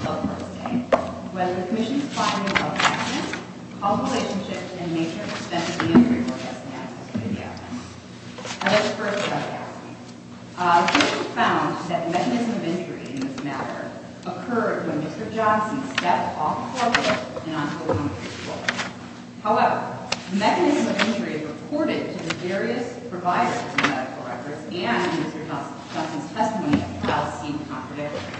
When the Commission's Platform of Health Action called relationships and major expenses and labor costs and access to the equipment. I'd like to first start by asking. It was found that mechanism of injury in this matter occurred when Mr. Johnson stepped off the floorboard and onto the concrete floor. However, the mechanism of injury reported to the various providers of medical records and Mr. Johnson's testimony at the trial seemed contradictory.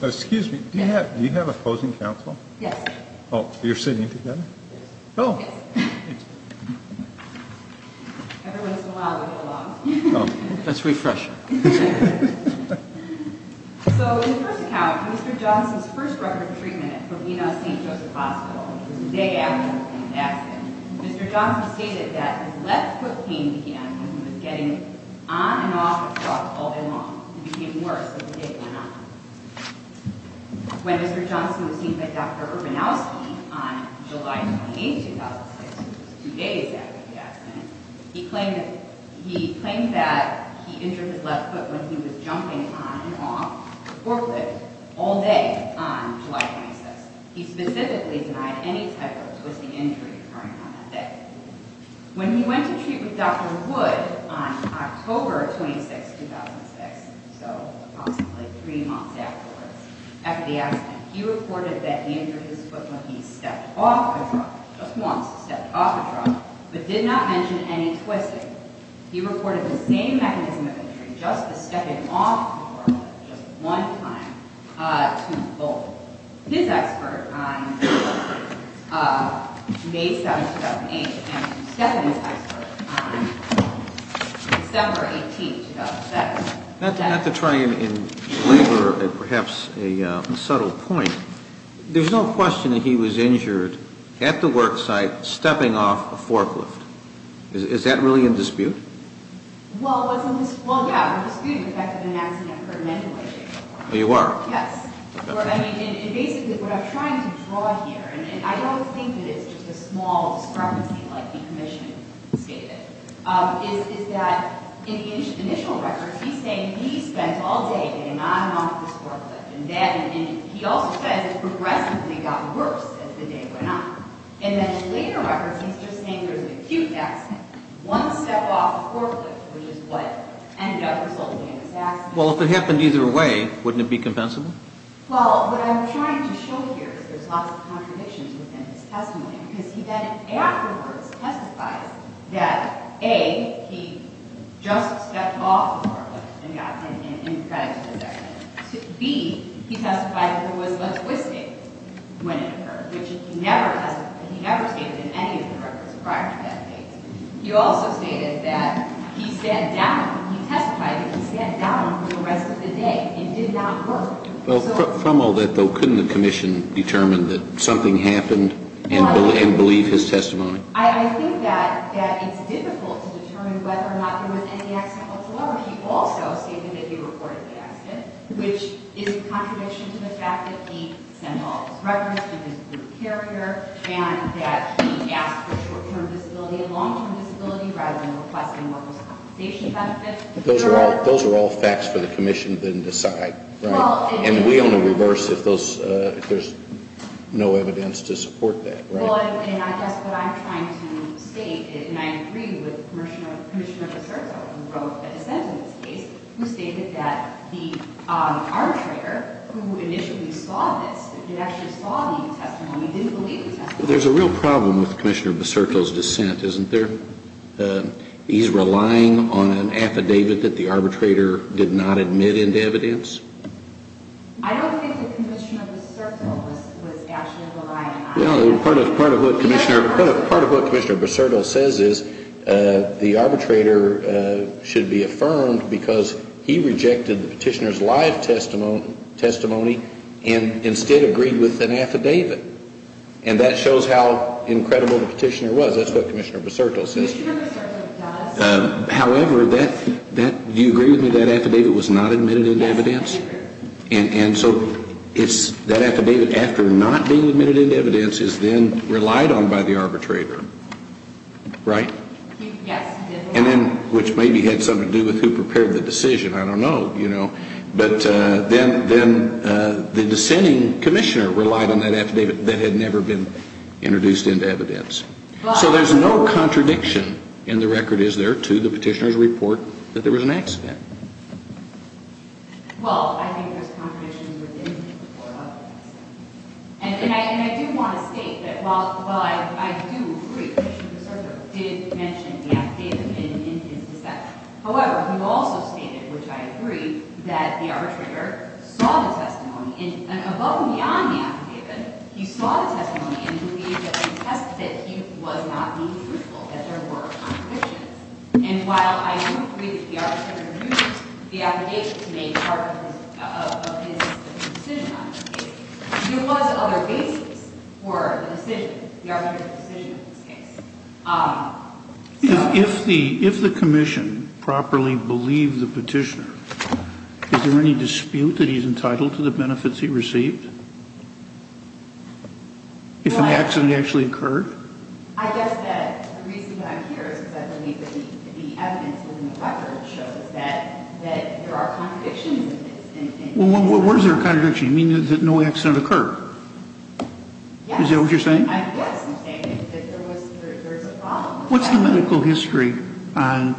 Excuse me, do you have a opposing counsel? Yes. Oh, you're sitting together? Yes. Oh. Yes. Everyone's allowed to get along. Oh, that's refreshing. So in the first account, Mr. Johnson's first record of treatment at Corvina St. Joseph Hospital was the day after the accident. Mr. Johnson stated that his left foot pain began when he was getting on and off the floor all day long. It became worse as the day went on. When Mr. Johnson was seen by Dr. Urbanowski on July 28, 2006, two days after the accident, he claimed that he injured his left foot when he was jumping on and off the forefoot all day on July 26th. He specifically denied any type of twisting injury occurring on that day. When he went to treat with Dr. Wood on October 26, 2006, so approximately three months afterwards, after the accident, he reported that he injured his foot when he stepped off the floor just once, stepped off the floor, but did not mention any twisting. He reported the same mechanism of injury, just the stepping off the floor just one time, to both. His expert on May 7, 2008, and Stephanie's expert on December 18, 2007. Not to try and belabor perhaps a subtle point, there's no question that he was injured at the work site stepping off a forklift. Is that really in dispute? Well, yeah, it was disputed the fact that an accident occurred manually. You are? Yes. Basically, what I'm trying to draw here, and I don't think that it's just a small discrepancy like the commission stated, is that in the initial records, he's saying he spent all day getting on and off this forklift. And he also says it progressively got worse as the day went on. And then in later records, he's just saying there's an acute accident, one step off a forklift, which is what ended up resulting in this accident. Well, if it happened either way, wouldn't it be compensable? Well, what I'm trying to show here is there's lots of contradictions within his testimony. Because he then afterwards testifies that, A, he just stepped off the forklift and got in an incredible accident. B, he testified there was a twist when it occurred, which he never stated in any of the records prior to that case. He also stated that he sat down. He testified that he sat down for the rest of the day. It did not work. Well, from all that, though, couldn't the commission determine that something happened and believe his testimony? I think that it's difficult to determine whether or not there was any accident whatsoever. He also stated that he reportedly had an accident, which is a contradiction to the fact that he sent all this records and that he asked for short-term disability and long-term disability rather than requesting what was compensation benefit. Those are all facts for the commission to then decide. And we only reverse if there's no evidence to support that. Well, and I guess what I'm trying to state is, and I agree with Commissioner Busurto, who wrote a dissent in this case, who stated that the arbitrator who initially saw this, who actually saw the testimony, didn't believe the testimony. Well, there's a real problem with Commissioner Busurto's dissent, isn't there? He's relying on an affidavit that the arbitrator did not admit into evidence. I don't think that Commissioner Busurto was actually relying on that. Well, part of what Commissioner Busurto says is the arbitrator should be affirmed because he rejected the petitioner's live testimony and instead agreed with an affidavit. And that shows how incredible the petitioner was. That's what Commissioner Busurto says. However, do you agree with me that affidavit was not admitted into evidence? And so that affidavit, after not being admitted into evidence, is then relied on by the arbitrator, right? Yes. And then, which maybe had something to do with who prepared the decision, I don't know, you know. But then the dissenting commissioner relied on that affidavit that had never been introduced into evidence. So there's no contradiction in the record, is there, to the petitioner's report that there was an accident? Well, I think there's contradictions within the report of the petitioner. And I do want to state that while I do agree that Commissioner Busurto did mention the affidavit in his dissent, however, he also stated, which I agree, that the arbitrator saw the testimony, and above and beyond the affidavit, he saw the testimony and he believed that he was not being truthful, that there were contradictions. And while I do agree that the arbitrator used the affidavit to make part of his decision on this case, there was other basis for the decision, the arbitrator's decision on this case. If the commission properly believed the petitioner, is there any dispute that he's entitled to the benefits he received? If an accident actually occurred? I guess that the reason I'm here is because I believe that the evidence within the record shows that there are contradictions in this. Well, where is there a contradiction? You mean that no accident occurred? Yes. Is that what you're saying? Yes, I'm saying that there was a problem. What's the medical history on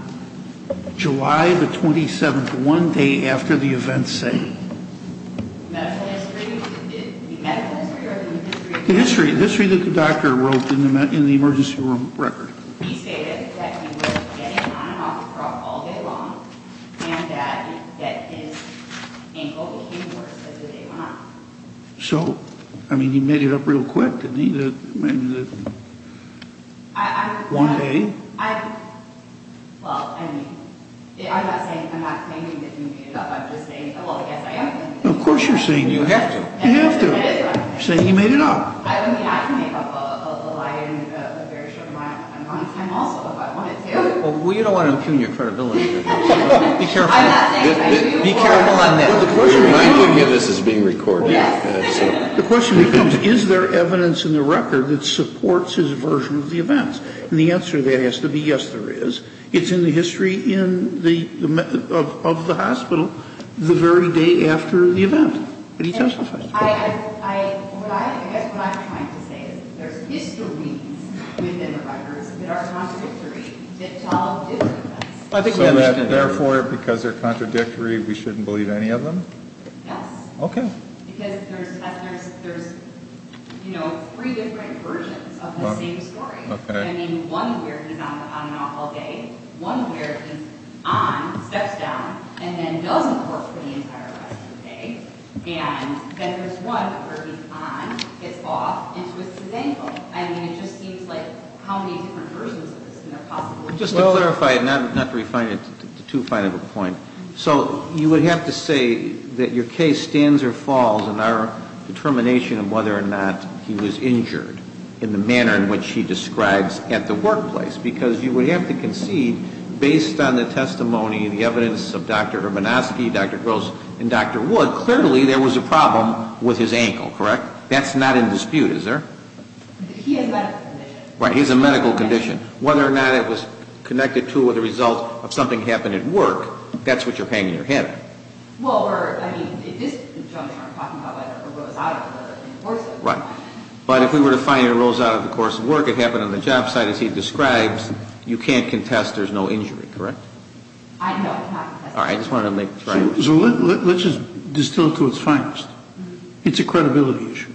July the 27th, one day after the events say? The medical history? The history that the doctor wrote in the emergency room record. He stated that he was getting on and off the truck all day long, and that his ankle became worse as the day went on. So, I mean, he made it up real quick, didn't he, that one day? Well, I'm not saying that he made it up, I'm just saying, well, I guess I am making it up. Well, of course you're saying that. You have to. You have to. You're saying he made it up. I mean, I can make up a lie in a very short amount of time also if I wanted to. Well, you don't want to impugn your credibility. Be careful. I'm not saying that. Be careful on this. Well, the question becomes. I can get this as being recorded. The question becomes, is there evidence in the record that supports his version of the events? And the answer to that has to be yes, there is. It's in the history of the hospital the very day after the event. But he testified. I guess what I'm trying to say is there's histories within the records that are contradictory that tell different events. So therefore, because they're contradictory, we shouldn't believe any of them? Yes. Okay. Because there's three different versions of the same story. Okay. One where he's on and off all day. One where he's on, steps down, and then doesn't work for the entire rest of the day. And then there's one where he's on, gets off, and twists his ankle. I mean, it just seems like how many different versions of this are there possibly? Just to clarify, and not to refine it to too fine of a point. So you would have to say that your case stands or falls in our determination of whether or not he was injured in the manner in which he describes at the workplace. Because you would have to concede, based on the testimony and the evidence of Dr. Hermanoski, Dr. Gross, and Dr. Wood, clearly there was a problem with his ankle, correct? That's not in dispute, is there? He has a medical condition. Right, he has a medical condition. Whether or not it was connected to or the result of something happening at work, that's what you're paying in your head. Well, we're, I mean, if this judge I'm talking about rose out of the course of work. Right. But if we were to find he rose out of the course of work, it happened on the job site as he describes, you can't contest there's no injury, correct? I know. All right. I just wanted to make sure. So let's just distill it to its finest. It's a credibility issue.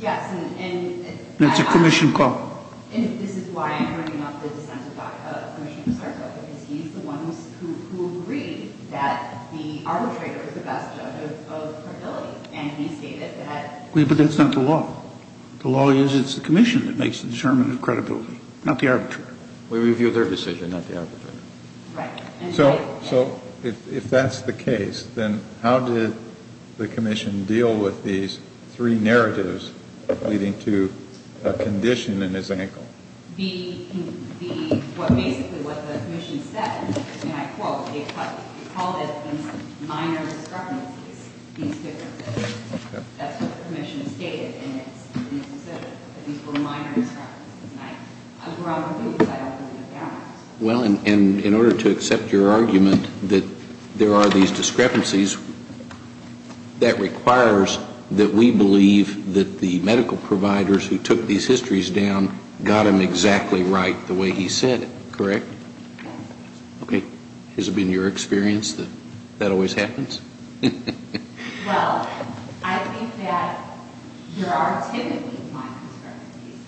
Yes. And it's a commission call. And this is why I'm bringing up the dissent of Commissioner DeSarco, because he's the one who agreed that the arbitrator was the best judge of credibility. And he stated that. But that's not the law. The law is it's the commission that makes the determination of credibility, not the arbitrator. We review their decision, not the arbitrator. Right. So if that's the case, then how did the commission deal with these three narratives leading to a condition in his ankle? Basically what the commission said, and I quote, they called it minor discrepancies. That's what the commission stated. And it said that these were minor discrepancies. Well, and in order to accept your argument that there are these discrepancies, that requires that we believe that the medical providers who took these histories down got them exactly right the way he said it, correct? Yes. Okay. Has it been your experience that that always happens? Well, I think that there are typically minor discrepancies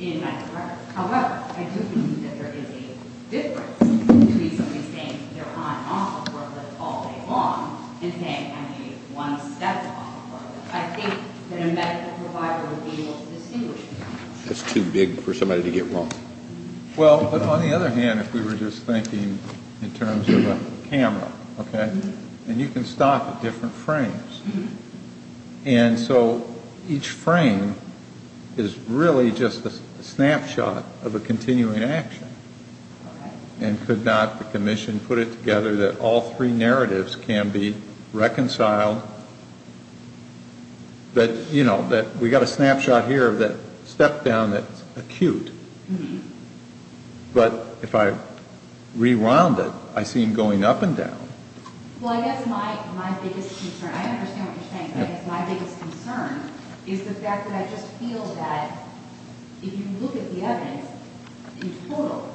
in medical records. However, I do believe that there is a difference between somebody saying they're on offer for a little all day long and saying I'm a one-step offer. I think that a medical provider would be able to distinguish between those. That's too big for somebody to get wrong. Well, but on the other hand, if we were just thinking in terms of a camera, okay? And you can stop at different frames. And so each frame is really just a snapshot of a continuing action. And could not the commission put it together that all three narratives can be reconciled? But, you know, we've got a snapshot here of that step down that's acute. But if I rewound it, I see him going up and down. Well, I guess my biggest concern, I understand what you're saying. My biggest concern is the fact that I just feel that if you look at the evidence in total,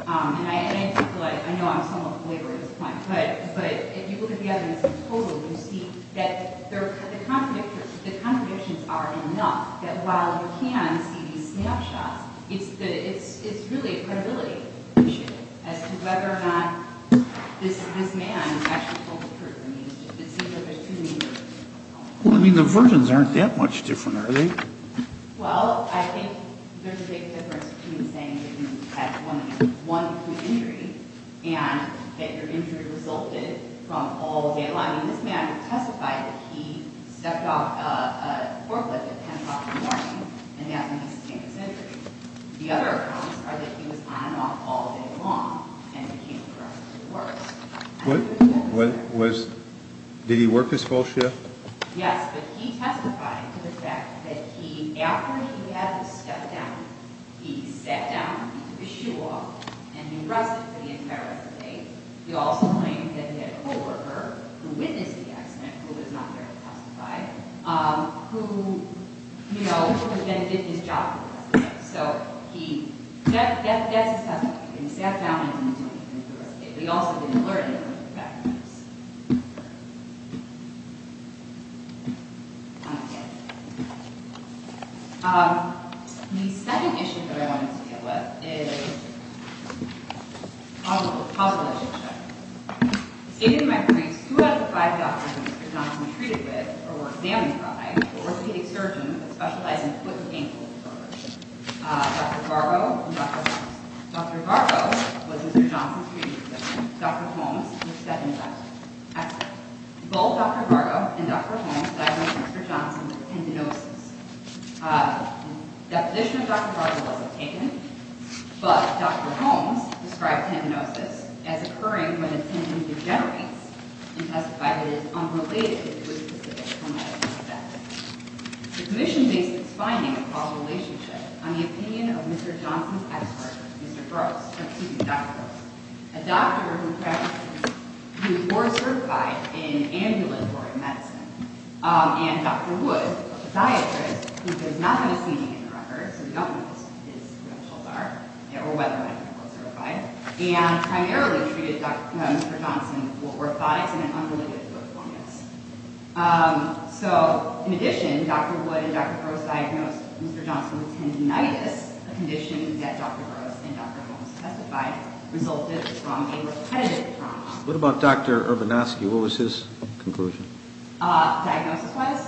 and I know I'm somewhat belaboring this point, but if you look at the evidence in total, you see that the contradictions are enough that while you can see these snapshots, it's really a credibility issue as to whether or not this man actually told the truth. I mean, it seems like there's too many... Well, I mean, the versions aren't that much different, are they? Well, I think there's a big difference between saying that you had one wound injury and that your injury resulted from all the... Now, this man testified that he stepped off a forklift at 10 o'clock in the morning, and that's when he sustained this injury. The other accounts are that he was on and off all day long, and he came across as the worst. Did he work his full shift? Yes, but he testified to the fact that after he had the step down, he sat down, he took his shoe off, and he rested for the entire day. He also claimed that he had a co-worker who witnessed the accident, who was not there to testify, who, you know, who had been at his job for the rest of the day. So that's his testimony. He sat down, and he took his shoe off. He also didn't learn anything from the fact of this. The second issue that I wanted to deal with is causal relationship. In my briefs, two out of the five doctors Mr. Johnson was treated with were examining priors or orthopedic surgeons that specialize in foot and ankle disorders. Dr. Vargo and Dr. Holmes. Both Dr. Vargo and Dr. Holmes diagnosed Mr. Johnson with tendinosis. The deposition of Dr. Vargo wasn't taken, but Dr. Holmes described tendinosis as occurring when a tendon degenerates and testified that it is unrelated to a specific traumatic event. The commission makes its finding of causal relationship on the opinion of Mr. Johnson's expert, Mr. Gross, or Dr. Gross, a doctor who was more certified in ambulatory medicine, and Dr. Wood, a podiatrist, who does not have a seating in the record, so we don't know his credentials are, or whether or not he was certified, and primarily treated Mr. Johnson with orthotics and an unrelated foot fungus. In addition, Dr. Wood and Dr. Gross diagnosed Mr. Johnson with tendinitis, a condition that Dr. Gross and Dr. Holmes testified resulted from a repetitive trauma. What about Dr. Urbanowski? What was his conclusion? Diagnosis-wise,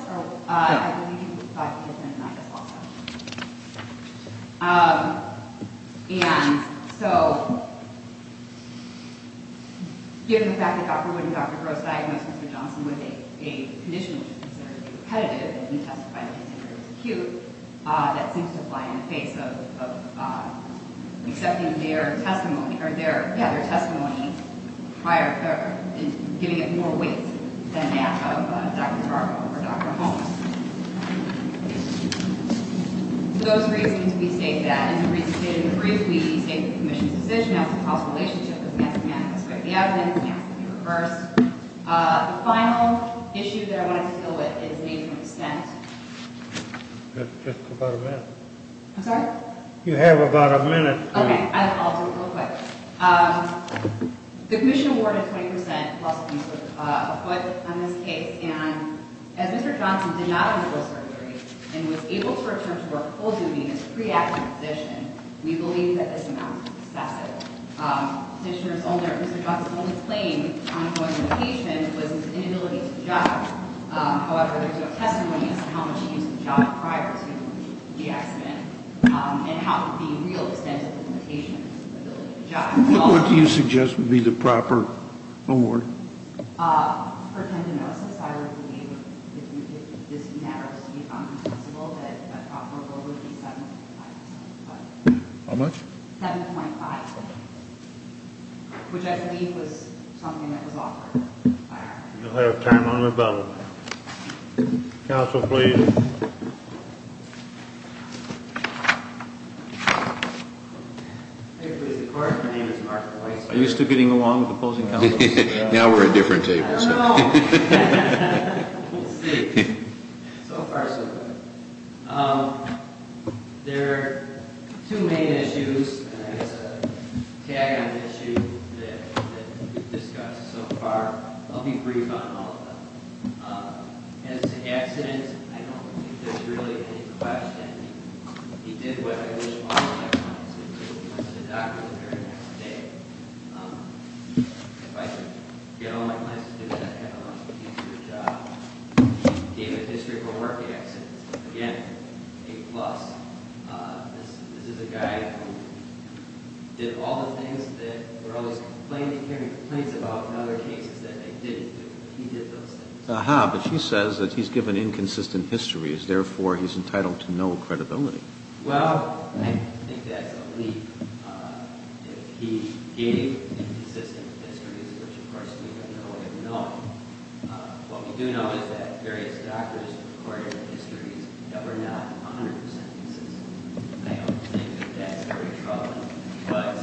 I believe he was diagnosed with tendinitis also. And so, given the fact that Dr. Wood and Dr. Gross diagnosed Mr. Johnson with a condition which is considered repetitive, and testified to be considered acute, that seems to apply in the face of accepting their testimony prior, or giving it more weight than that of Dr. Garbo or Dr. Holmes. Those reasons, we state that. And the reasons stated in the brief, we state the commission's decision as a causal relationship. The evidence has to be reversed. The final issue that I wanted to deal with is the extent. I'm sorry? You have about a minute. Okay, I'll do it real quick. The commission awarded 20% plus a foot on this case, and as Mr. Johnson did not undergo surgery, and was able to return to work full duty in his pre-action position, we believe that this amount is excessive. Petitioner's only, or Mr. Johnson's only claim on going to the patient was his inability to jog. However, there's no testimony as to how much he used to jog prior to the accident, and how the real extent of the limitation on his ability to jog. What do you suggest would be the proper award? For tendinosis, I would believe, if this matters to you, that the proper award would be 7.5%. How much? 7.5%. Which I believe was something that was offered. You'll have time on the bill. Counsel, please. Thank you, Mr. Clark. My name is Mark Weisberg. Are you still getting along with the opposing counsel? Now we're at different tables. I don't know. We'll see. So far, so good. There are two main issues, and I guess a tag-on issue that we've discussed so far. I'll be brief on all of them. As to the accident, I don't think there's really any question. He did what I wish all of my clients would do. He went to the doctor the very next day. If I could get all of my clients to do that, I'd have a much easier job. He gave a history for a work accident. Again, A+. This is a guy who did all the things that we're always hearing complaints about in other cases that they didn't do. He did those things. Aha, but she says that he's given inconsistent histories. Therefore, he's entitled to no credibility. Well, I think that's a leap. If he gave inconsistent histories, which, of course, we have no way of knowing, what we do know is that various doctors recorded histories that were not honored sentences. I don't think that that's very troubling, but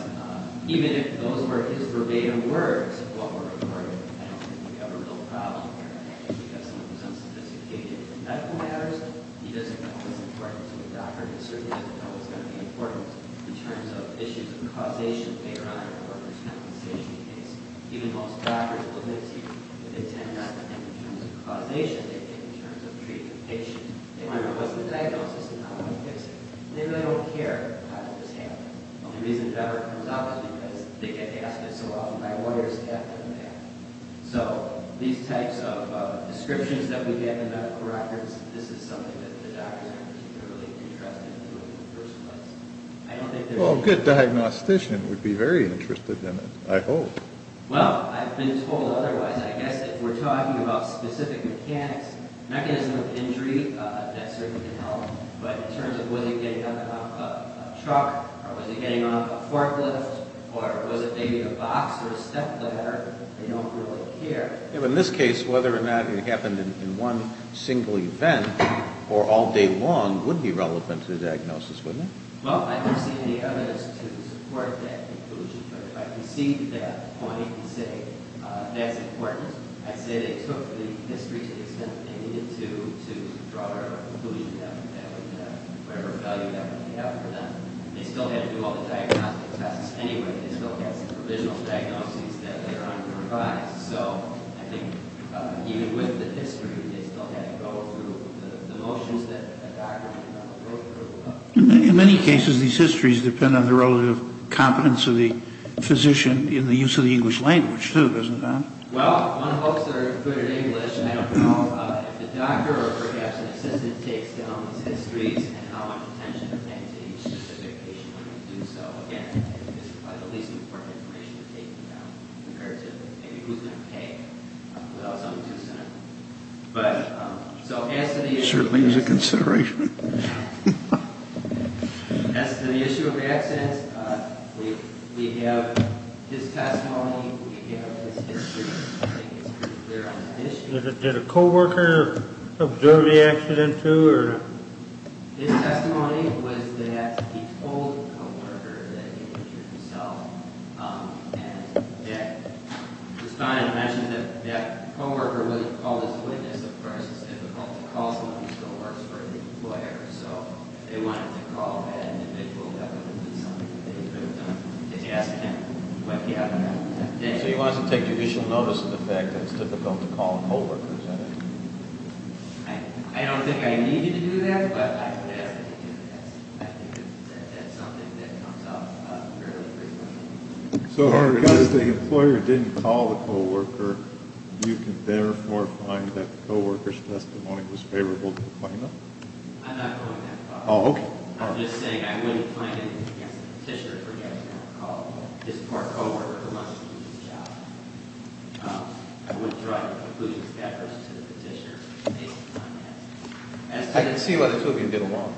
even if those were his verbatim words of what were recorded, I don't think we have a real problem here. I think because he was unsophisticated in medical matters, he doesn't know what's important to the doctor. He certainly doesn't know what's going to be important in terms of issues of causation later on in a worker's compensation case. Even most doctors will admit to you that they tend not to think in terms of causation. They think in terms of treating the patient. They wonder, what's the diagnosis and how do I fix it? They really don't care how this happened. The only reason it ever comes up is because they get asked it so often by lawyers to have them do that. So these types of descriptions that we get in medical records, this is something that the doctors are particularly interested in doing in the first place. I don't think there's any... Well, a good diagnostician would be very interested in it, I hope. Well, I've been told otherwise. I guess if we're talking about specific mechanics, mechanism of injury, that certainly can help. But in terms of was he getting on a truck or was he getting on a forklift or was it maybe a box or a step ladder, they don't really care. In this case, whether or not it happened in one single event or all day long would be relevant to the diagnosis, wouldn't it? Well, I don't see any evidence to support that conclusion. But if I can see that point and say that's important, I'd say they took the history to the extent that they needed to to draw their conclusion down and add whatever value that would have for them. They still had to do all the diagnostic tests anyway. They still had some provisional diagnoses that they're under advised. So I think even with the history, they still had to go through the motions that a doctor had to go through. In many cases, these histories depend on the relative competence of the physician in the use of the English language, too, doesn't it, Don? Well, one hopes they're good at English. I don't know. Certainly is a consideration. As to the issue of accidents, we have his testimony, we have his history. Did a co-worker observe the accident, too? His testimony was that he told a co-worker that he injured himself. And it's fine to mention that the co-worker really called his witness. Of course, it's difficult to call someone who still works for the employer. So if they wanted to call that individual, that would have been something that they could have done. If you ask him, he might be able to help. So he wants to take judicial notice of the fact that it's difficult to call a co-worker, is that it? I don't think I need you to do that, but I would ask that you do that. I think that's something that comes up fairly frequently. So because the employer didn't call the co-worker, you can therefore find that the co-worker's testimony was favorable to the plaintiff? I'm not going that far. Oh, okay. I'm just saying I wouldn't find it against the petitioner to forget to call his or her co-worker who must do this job. I wouldn't draw any conclusions to that versus to the petitioner based on that. I can see why the two of you have been alone.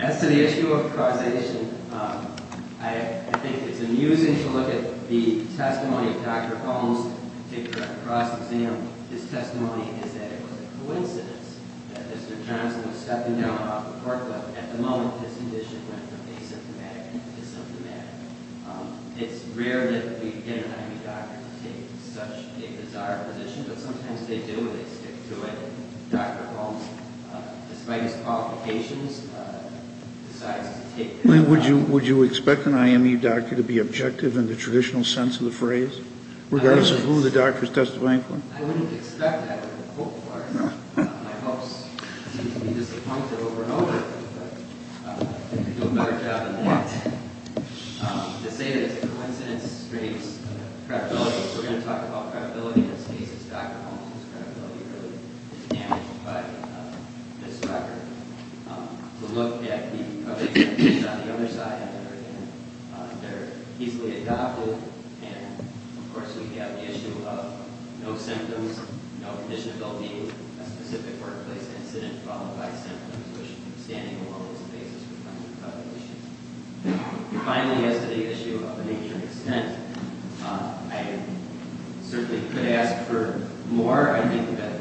As to the issue of causation, I think it's amusing to look at the testimony of Dr. Holmes to correct the cross-exam. His testimony is that it was a coincidence that Mr. Johnson was stepping down off the court level. At the moment, his condition went from asymptomatic to asymptomatic. It's rare that we get an IMU doctor to take such a bizarre position, but sometimes they do and they stick to it. Dr. Holmes, despite his qualifications, decides to take the job. Would you expect an IMU doctor to be objective in the traditional sense of the phrase, regardless of who the doctor is testifying for? I wouldn't expect that. My folks seem to be disappointed over and over. They do a better job than that. To say that it's a coincidence strengths credibility. We're going to talk about credibility in this case. It's Dr. Holmes whose credibility really is damaged by this record. We'll look at the other testimonies on the other side. They're easily adopted. Of course, we have the issue of no symptoms, no condition of LV, a specific workplace incident, followed by symptoms, which standing alone is the basis for finding causation. Finally, as to the issue of the nature and extent, I certainly could ask for more. So far, I think that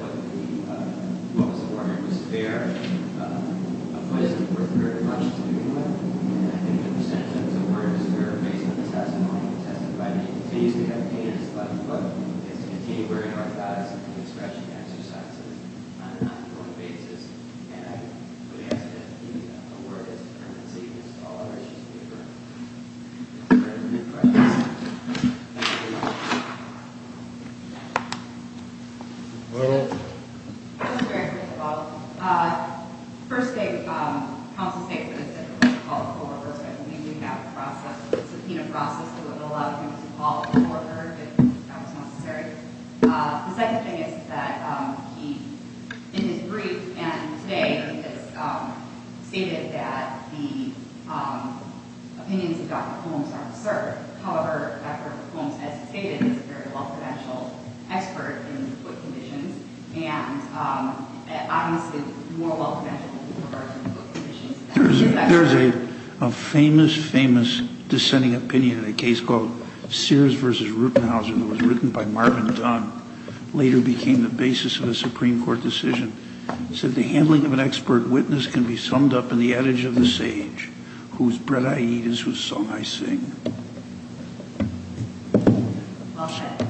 what was awarded was fair. My folks were very much in agreement. I think the percentage of the work is fair based on the testimony you testified. We continue to have patients left to continue wearing orthotics and doing stretching exercises on an ongoing basis. I would ask that the award has been received. That's all there is to it. Any further questions? We're all set. Thank you very much. First thing, counsel stated that it was a call to order. I believe we have a process, a subpoena process that would allow him to call an order if that was necessary. The second thing is that in his brief and today, it's stated that the opinions of Dr. Holmes are absurd. However, Dr. Holmes, as stated, is a very well-credentialed expert in foot conditions and obviously more well-credentialed in regards to foot conditions. There's a famous, famous dissenting opinion in a case called Sears v. Rupenhauser that was written by Marvin Dunn, later became the basis of a Supreme Court decision. It said the handling of an expert witness can be summed up in the adage of the sage, whose bread I eat is whose song I sing. Well said.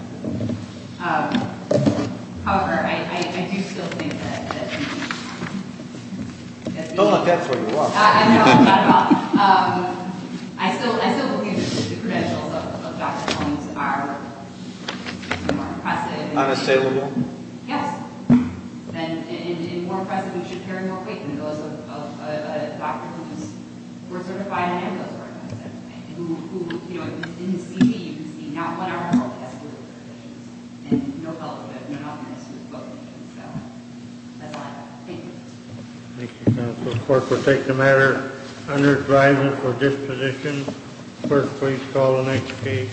However, I do still think that... Don't look that way. I know. I still believe that the credentials of Dr. Holmes are more impressive. Unassailable? Yes. And more impressive, we should carry more weight than those of a doctor who was, were certified in those organizations. Who, you know, in his CV, you can see not one article has foot conditions. And no fellowship, none of this was voted. So, that's all I have. Thank you. Thank you, counsel. The court will take the matter under driver for disposition. Clerk, please call the next case.